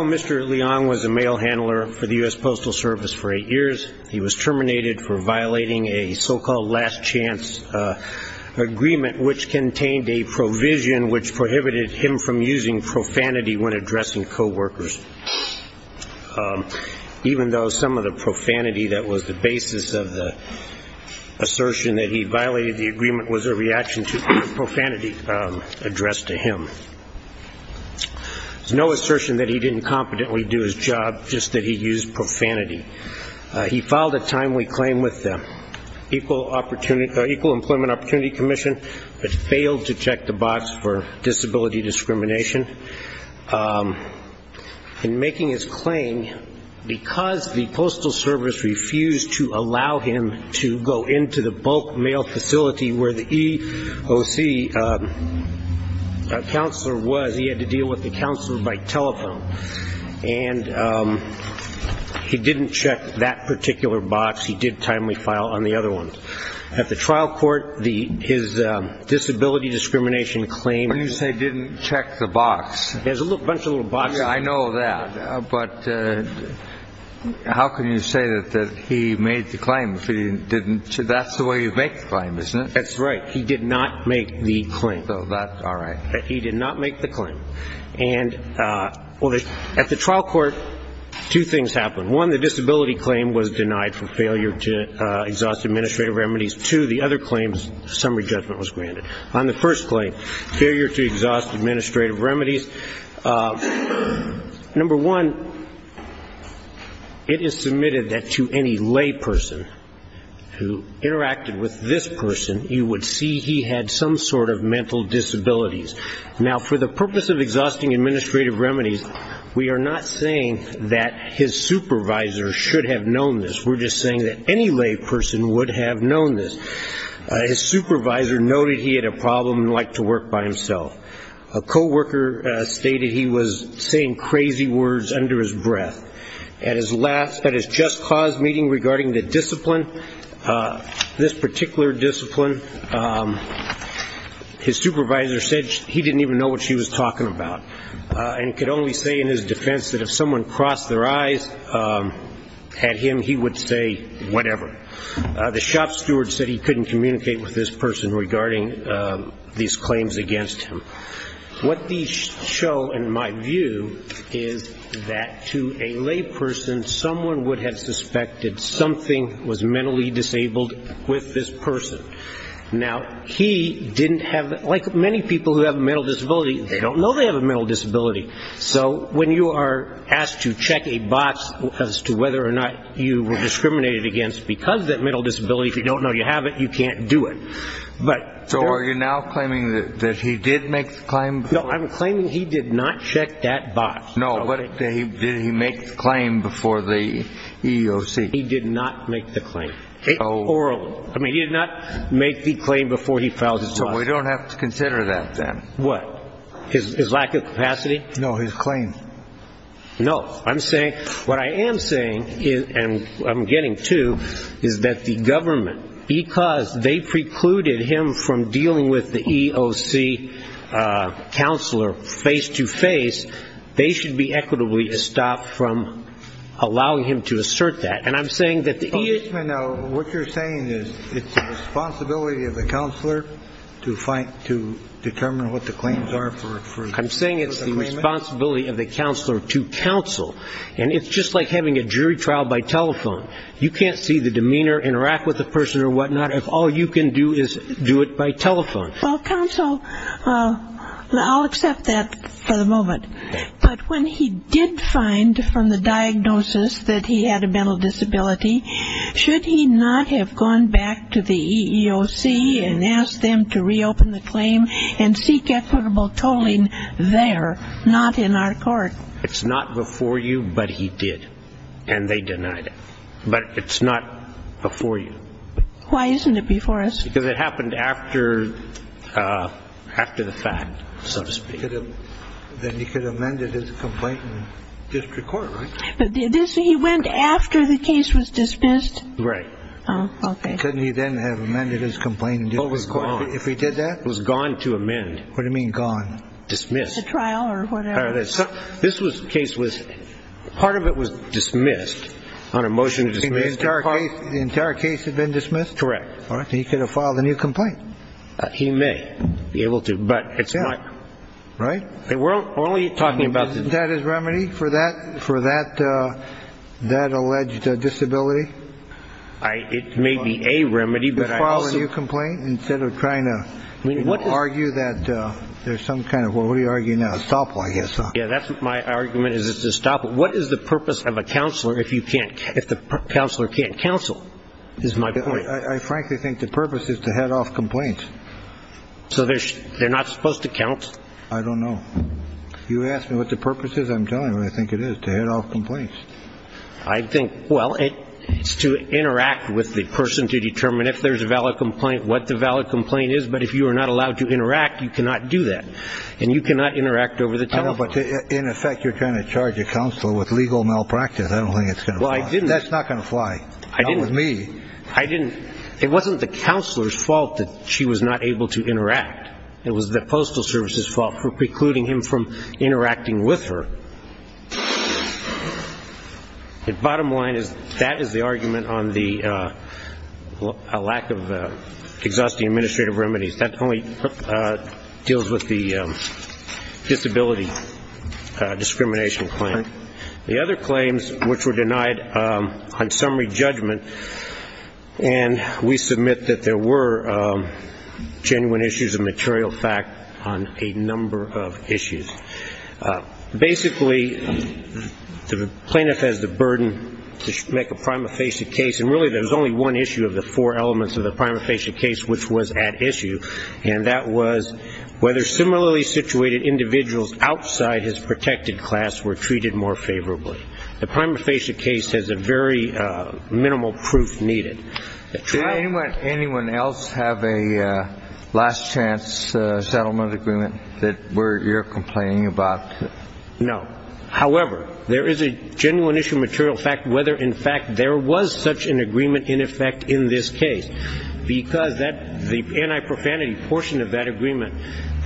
Mr. Leong was a mail handler for the U.S. Postal Service for eight years. He was terminated for violating a so-called last chance agreement, which contained a provision which prohibited him from using profanity when addressing co-workers, even though some of the profanity that was the basis of the assertion that he violated the agreement was a reaction to profanity addressed to him. There's no assertion that he didn't competently do his job, just that he used profanity. He filed a timely claim with the Equal Employment Opportunity Commission, but failed to check the box for disability discrimination. In making his claim, because the Postal Service refused to allow him to go into the bulk mail facility where the EOC counselor was, he had to deal with the counselor by telephone, and he didn't check that particular box. He did timely file on the other ones. At the trial court, his disability discrimination claim... When you say didn't check the box... There's a bunch of little boxes. I know that, but how can you say that he made the claim if he didn't? That's the way you make the claim, isn't it? That's right. He did not make the claim. So that's all right. He did not make the claim. And at the trial court, two things happened. One, the disability claim was denied for failure to exhaust administrative remedies. Two, the other claims, summary judgment was granted. On the first claim, failure to exhaust administrative remedies, number one, it is submitted that to any lay person who interacted with this person, you would see he had some sort of mental disabilities. Now, for the purpose of exhausting administrative remedies, we are not saying that his supervisor should have known this. We're just saying that any lay person would have known this. His supervisor noted he had a problem and At his last, at his just cause meeting regarding the discipline, this particular discipline, his supervisor said he didn't even know what she was talking about and could only say in his defense that if someone crossed their eyes at him, he would say whatever. The shop steward said he couldn't communicate with this person regarding these claims against him. What these show, in my view, is that to a lay person, someone would have suspected something was mentally disabled with this person. Now, he didn't have, like many people who have a mental disability, they don't know they have a mental disability. So when you are asked to check a box as to whether or not you were discriminated against because of that mental disability, if you don't know you have it, you can't do it. But so are you now claiming that he did make the claim? No, I'm claiming he did not check that box. No, but he did he make the claim before the EEOC? He did not make the claim orally. I mean, he did not make the claim before he filed. So we don't have to consider that then. What is his lack of capacity? No, his claim. No, I'm saying what I am saying is and I'm getting to is that the government, because they precluded him from dealing with the EEOC counselor face to face, they should be equitably stopped from allowing him to assert that. And I'm saying that the EEOC. What you're saying is it's the responsibility of the counselor to fight to determine what the claims are for. I'm saying it's the responsibility of the counselor to counsel. And it's just like having a jury trial by telephone. You can't see the demeanor, interact with the person or whatnot, if all you can do is do it by telephone. Well, counsel, I'll accept that for the moment. But when he did find from the diagnosis that he had a mental disability, should he not have gone back to the EEOC and asked them to reopen the claim and seek equitable tolling there, not in our court? It's not before you, but he did. And they denied it. But it's not before you. Why isn't it before us? Because it happened after the fact, so to speak. Then he could have amended his complaint in district court, right? He went after the case was dismissed? Right. Couldn't he then have amended his complaint in district court if he did that? It was gone to amend. What do you mean gone? Dismissed. The trial or whatever. This case was, part of it was dismissed on a motion to dismiss. The entire case had been dismissed? Correct. He could have filed a new complaint. He may be able to, but it's not. Right. We're only talking about. That is remedy for that, for that, that alleged disability. I, it may be a remedy, but I also. To file a new complaint instead of trying to argue that there's some kind of, well, what are you arguing now? Stop while you have time. Yeah, that's my argument is to stop. What is the purpose of a counselor if you can't, if the counselor can't counsel is my point. I frankly think the purpose is to head off complaints. So they're not supposed to count. I don't know. You asked me what the purpose is. I'm telling you, I think it is to head off complaints. I think, well, it's to interact with the person to determine if there's a valid complaint, what the valid complaint is. But if you are not allowed to interact, you cannot do that. And you cannot interact over the telephone. But in effect, you're trying to charge a counselor with legal malpractice. I don't think it's going to. Well, I didn't. That's not going to fly. I didn't with me. I didn't. It wasn't the counselor's fault that she was not able to interact. It was the Postal Service's fault for precluding him from interacting with her. The bottom line is that is the argument on the lack of exhaustive administrative remedies. That only deals with the disability discrimination claim. The other claims which were denied on summary judgment. And we submit that there were genuine issues of material fact on a number of issues. Basically, the plaintiff has the burden to make a prima facie case. And really there's only one issue of the four elements of the prima facie case which was at issue. And that was whether similarly situated individuals outside his protected class were able to make a prima facie case. And the prima facie case has a very minimal proof needed. Did anyone else have a last chance settlement agreement that you're complaining about? No. However, there is a genuine issue of material fact whether in fact there was such an agreement in effect in this case. Because the anti-profanity portion of that agreement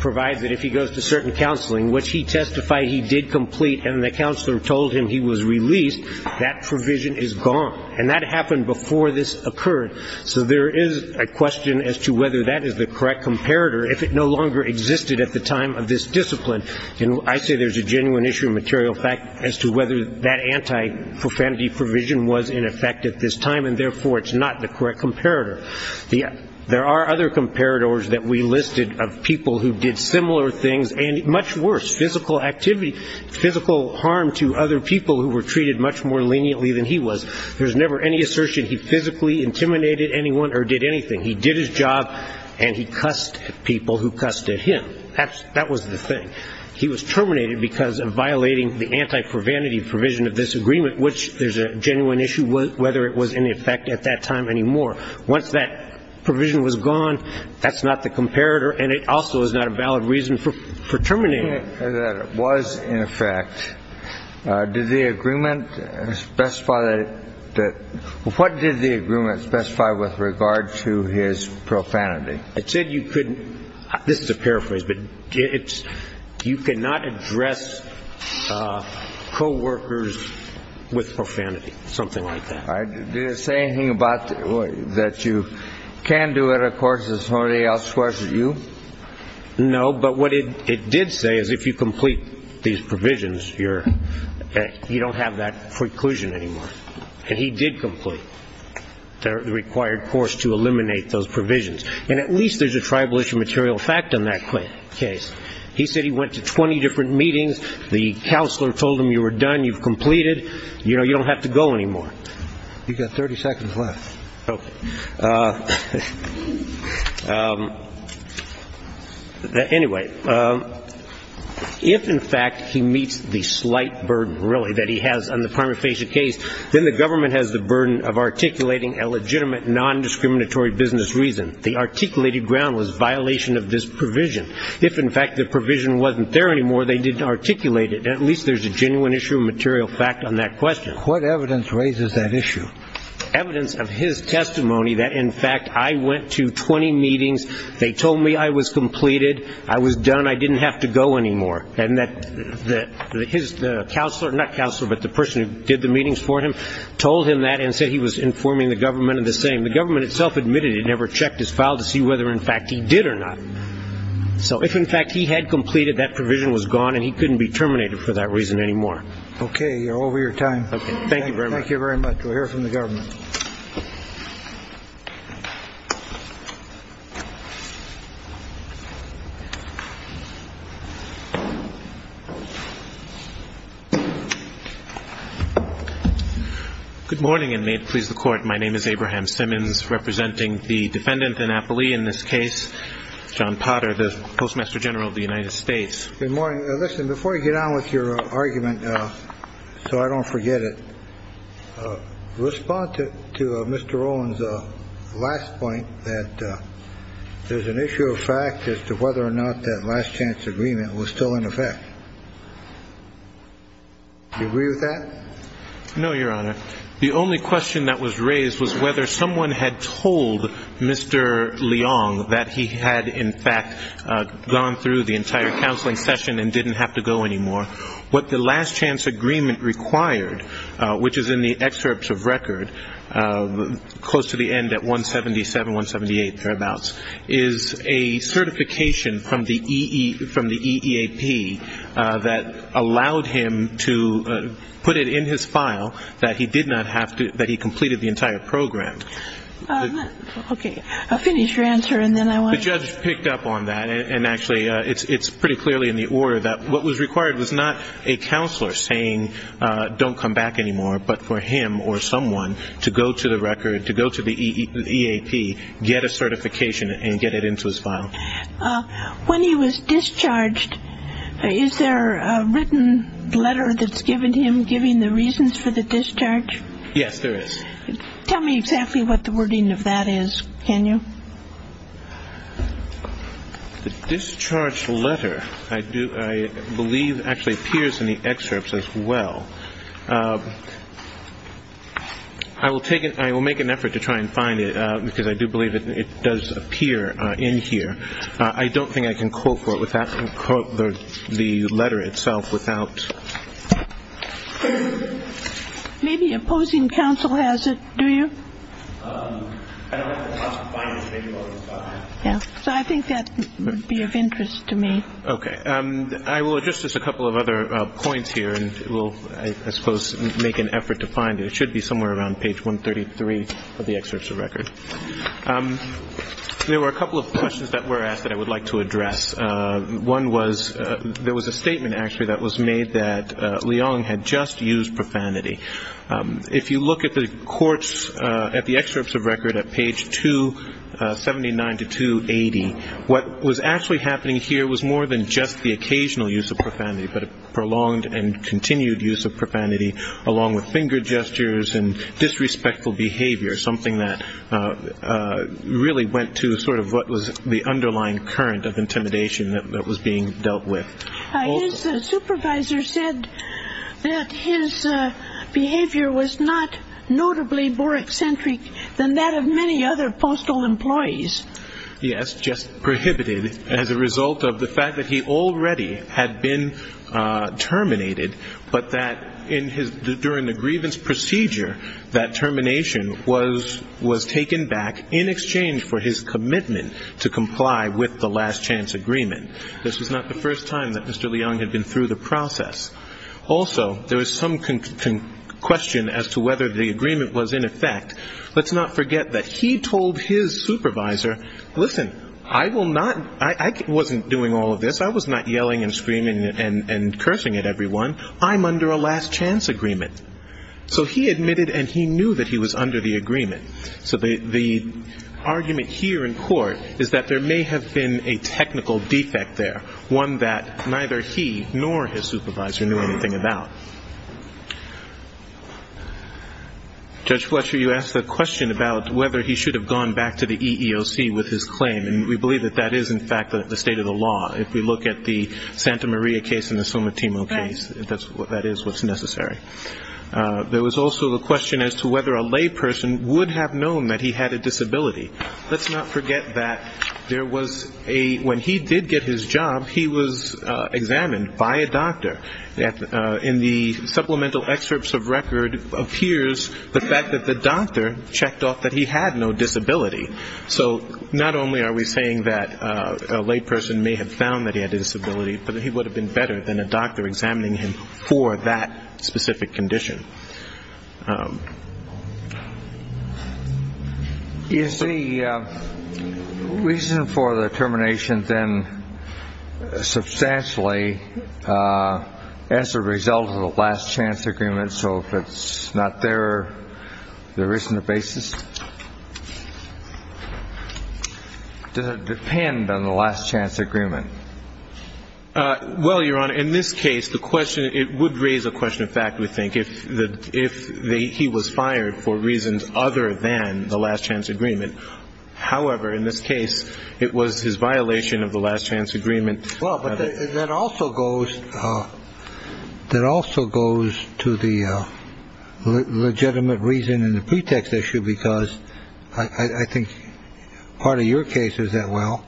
provides that if he goes to certain counseling, which he testified he did complete and the least, that provision is gone. And that happened before this occurred. So there is a question as to whether that is the correct comparator if it no longer existed at the time of this discipline. And I say there's a genuine issue of material fact as to whether that anti-profanity provision was in effect at this time. And therefore, it's not the correct comparator. There are other comparators that we listed of people who did similar things and much worse, physical activity, physical harm to other people who were treated much more leniently than he was. There's never any assertion he physically intimidated anyone or did anything. He did his job and he cussed people who cussed at him. That was the thing. He was terminated because of violating the anti-profanity provision of this agreement, which there's a genuine issue whether it was in effect at that time anymore. Once that provision was gone, that's not the comparator and it also is not a valid reason for terminating it. That it was in effect, did the agreement specify that, what did the agreement specify with regard to his profanity? It said you couldn't, this is a paraphrase, but you cannot address co-workers with profanity, something like that. Did it say anything about that you can do it, of course, if somebody else swears at you? No, but what it did say is if you complete these provisions, you don't have that preclusion anymore. And he did complete the required course to eliminate those provisions. And at least there's a tribal issue material fact in that case. He said he went to 20 different meetings, the counselor told him you were done, you've completed, you don't have to go anymore. You've got 30 seconds left. Anyway, if in fact he meets the slight burden, really, that he has on the prima facie case, then the government has the burden of articulating a legitimate nondiscriminatory business reason. The articulated ground was violation of this provision. If in fact the provision wasn't there anymore, they didn't articulate it. And at least there's a genuine issue of material fact on that question. What evidence raises that issue? Evidence of his testimony that, in fact, I went to 20 meetings, they told me I was completed, I was done, I didn't have to go anymore. And that his counselor, not counselor, but the person who did the meetings for him, told him that and said he was informing the government of the same. The government itself admitted it, never checked his file to see whether in fact he did or not. So if in fact he had completed, that provision was gone and he couldn't be terminated for that reason anymore. OK. You're over your time. Thank you very much. Thank you very much. We'll hear from the government. Good morning. And may it please the court. My name is Abraham Simmons, representing the defendant in Napoli in this case, John Potter, the postmaster general of the United States. Good morning. Listen, before you get on with your argument, so I don't forget it, respond to Mr. Rowland's last point that there's an issue of fact as to whether or not that last chance agreement was still in effect. Do you agree with that? No, Your Honor. The only question that was raised was whether someone had told Mr. Leong that he had, in fact, gone through the entire counseling session and didn't have to go anymore. What the last chance agreement required, which is in the excerpts of record, close to the end at 177, 178 thereabouts, is a certification from the EEAP that allowed him to put it in his file that he did not have to, that he completed the entire program. Okay. I'll finish your answer and then I want to... The judge picked up on that. And actually, it's pretty clearly in the order that what was required was not a counselor saying, don't come back anymore, but for him or someone to go to the record, to go to the EEAP, get a certification and get it into his file. When he was discharged, is there a written letter that's given to him giving the reasons for the discharge? Yes, there is. Tell me exactly what the wording of that is, can you? The discharge letter, I believe, actually appears in the excerpts as well. I will make an effort to try and find it because I do believe it does appear in here. I don't think I can quote the letter itself without... Maybe opposing counsel has it, do you? I don't have the cost of finding it. So I think that would be of interest to me. Okay. I will address just a couple of other points here and we'll, I suppose, make an effort to find it. It should be somewhere around page 133 of the excerpts of record. There were a couple of questions that were asked that I would like to address. One was, there was a statement actually that was made that Leong had just used profanity. If you look at the courts, at the excerpts of record at page 279 to 280, what was actually happening here was more than just the occasional use of profanity, but a prolonged and continued use of profanity along with finger gestures and disrespectful behavior, something that really went to sort of what was the underlying current of intimidation that was being dealt with. His supervisor said that his behavior was not notably more eccentric than that of many other postal employees. Yes, just prohibited as a result of the fact that he already had been terminated, but that in his, during the grievance procedure, that termination was taken back in exchange for his commitment to comply with the last chance agreement. This was not the first time that Mr. Leong had been through the process. Also there was some question as to whether the agreement was in effect. Let's not forget that he told his supervisor, listen, I will not, I wasn't doing all of this. I was not yelling and screaming and cursing at everyone. I'm under a last chance agreement. So he admitted and he knew that he was under the agreement. So the argument here in court is that there may have been a technical defect there, one that neither he nor his supervisor knew anything about. Judge Fletcher, you asked the question about whether he should have gone back to the EEOC with his claim, and we believe that that is in fact the state of the law. If we look at the Santa Maria case and the Somatimo case, that is what's necessary. There was also the question as to whether a layperson would have known that he had a disability. Let's not forget that there was a, when he did get his job, he was examined by a doctor. In the supplemental excerpts of record appears the fact that the doctor checked off that he had no disability. So not only are we saying that a layperson may have found that he had a disability, but that he would have been better than a doctor examining him for that specific condition. Is the reason for the termination then substantially as a result of the last chance agreement? So if it's not there, there isn't a basis? Does it depend on the last chance agreement? Well, Your Honor, in this case, the question, it would raise a question of fact, we think, if he was fired for reasons other than the last chance agreement. However, in this case, it was his violation of the last chance agreement. Well, but that also goes, that also goes to the legitimate reason and the pretext issue because I think part of your case is that, well,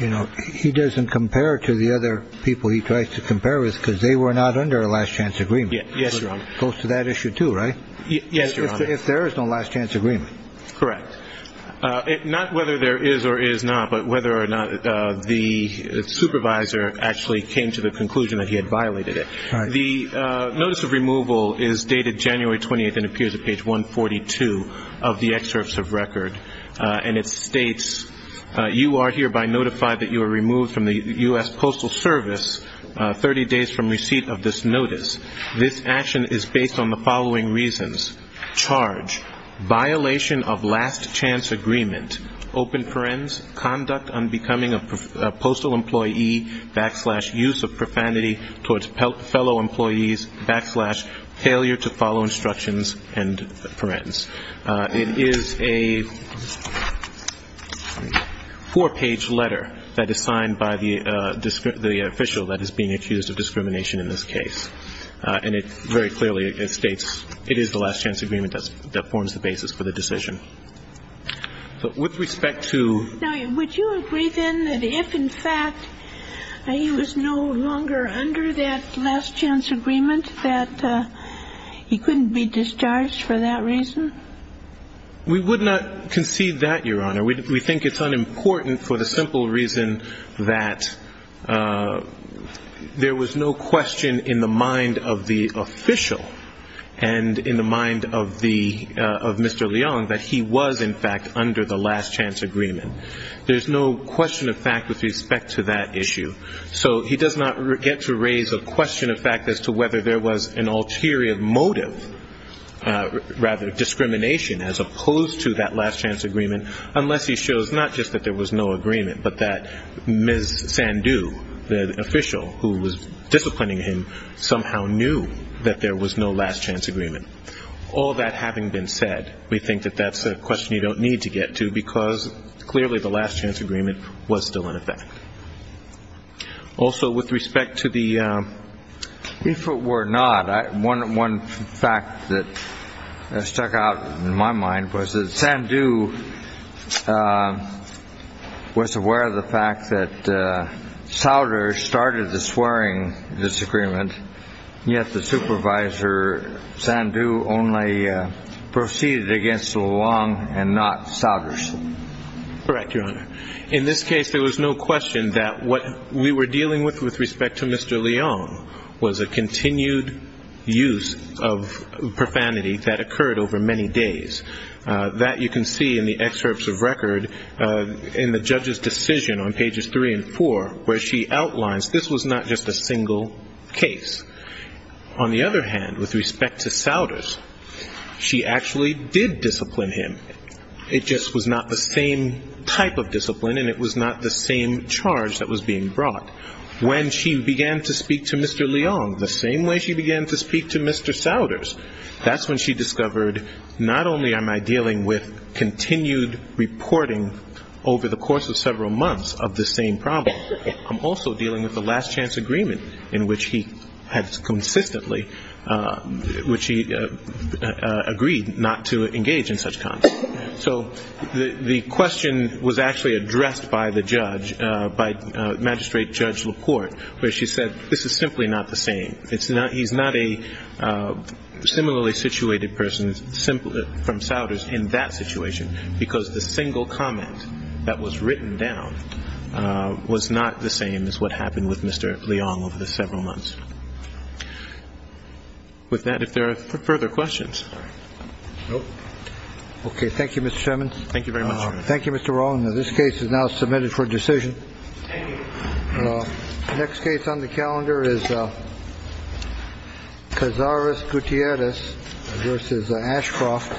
you know, he doesn't compare to the other people he tries to compare with because they were not under a last chance agreement. Yes, Your Honor. Goes to that issue too, right? Yes, Your Honor. If there is no last chance agreement. Correct. Not whether there is or is not, but whether or not the supervisor actually came to the conclusion that he had violated it. The notice of removal is dated January 28th and appears at page 142 of the excerpts of record. And it states, you are hereby notified that you are removed from the U.S. Postal Service 30 days from receipt of this notice. This action is based on the following reasons. Charge, violation of last chance agreement. Open parens, conduct unbecoming of postal employee, backslash, use of profanity towards fellow employees, backslash, failure to follow instructions and parens. It is a four-page letter that is signed by the official that is being accused of discrimination in this case. And it very clearly states it is the last chance agreement that forms the basis for the decision. Now, would you agree then that if, in fact, he was no longer under that last chance agreement, that he couldn't be discharged for that reason? We would not concede that, Your Honor. We think it's unimportant for the simple reason that there was no question in the mind of the official and in the mind of Mr. Leong that he was, in fact, under the last chance agreement. There's no question of fact with respect to that issue. So he does not get to raise a question of fact as to whether there was an ulterior motive, rather discrimination, as opposed to that last chance agreement unless he shows not just that there was no agreement, but that Ms. Sandhu, the official who was disciplining him, somehow knew that there was no last chance agreement. All that having been said, we think that that's a question you don't need to get to because clearly the last chance agreement was still in effect. Also with respect to the... If it were not, one fact that stuck out in my mind was that Sandhu was aware of the fact that Souders started the swearing disagreement, yet the supervisor, Sandhu, only proceeded against Leong and not Souders. Correct, Your Honor. In this case, there was no question that what we were dealing with with respect to Mr. Leong was a continued use of profanity that occurred over many days. That you can see in the excerpts of record in the judge's decision on pages 3 and 4 where she outlines this was not just a single case. On the other hand, with respect to Souders, she actually did discipline him. It just was not the same type of discipline and it was not the same charge that was being brought. When she began to speak to Mr. Leong the same way she began to speak to Mr. Souders, that's when she discovered not only am I dealing with continued reporting over the course of several months of the same problem, I'm also dealing with the last chance agreement in which he had consistently agreed not to engage in such content. So the question was actually addressed by the judge, by Magistrate Judge LaPorte, where she said this is simply not the same. He's not a similarly situated person from Souders in that situation because the single comment that was written down was not the same as what happened with Mr. Leong over the several months. With that, if there are further questions. Okay, thank you Mr. Simmons. Thank you very much. Thank you Mr. Rowland. This case is now submitted for decision. Thank you. Next case on the calendar is Cazares Gutierrez versus Ashcroft.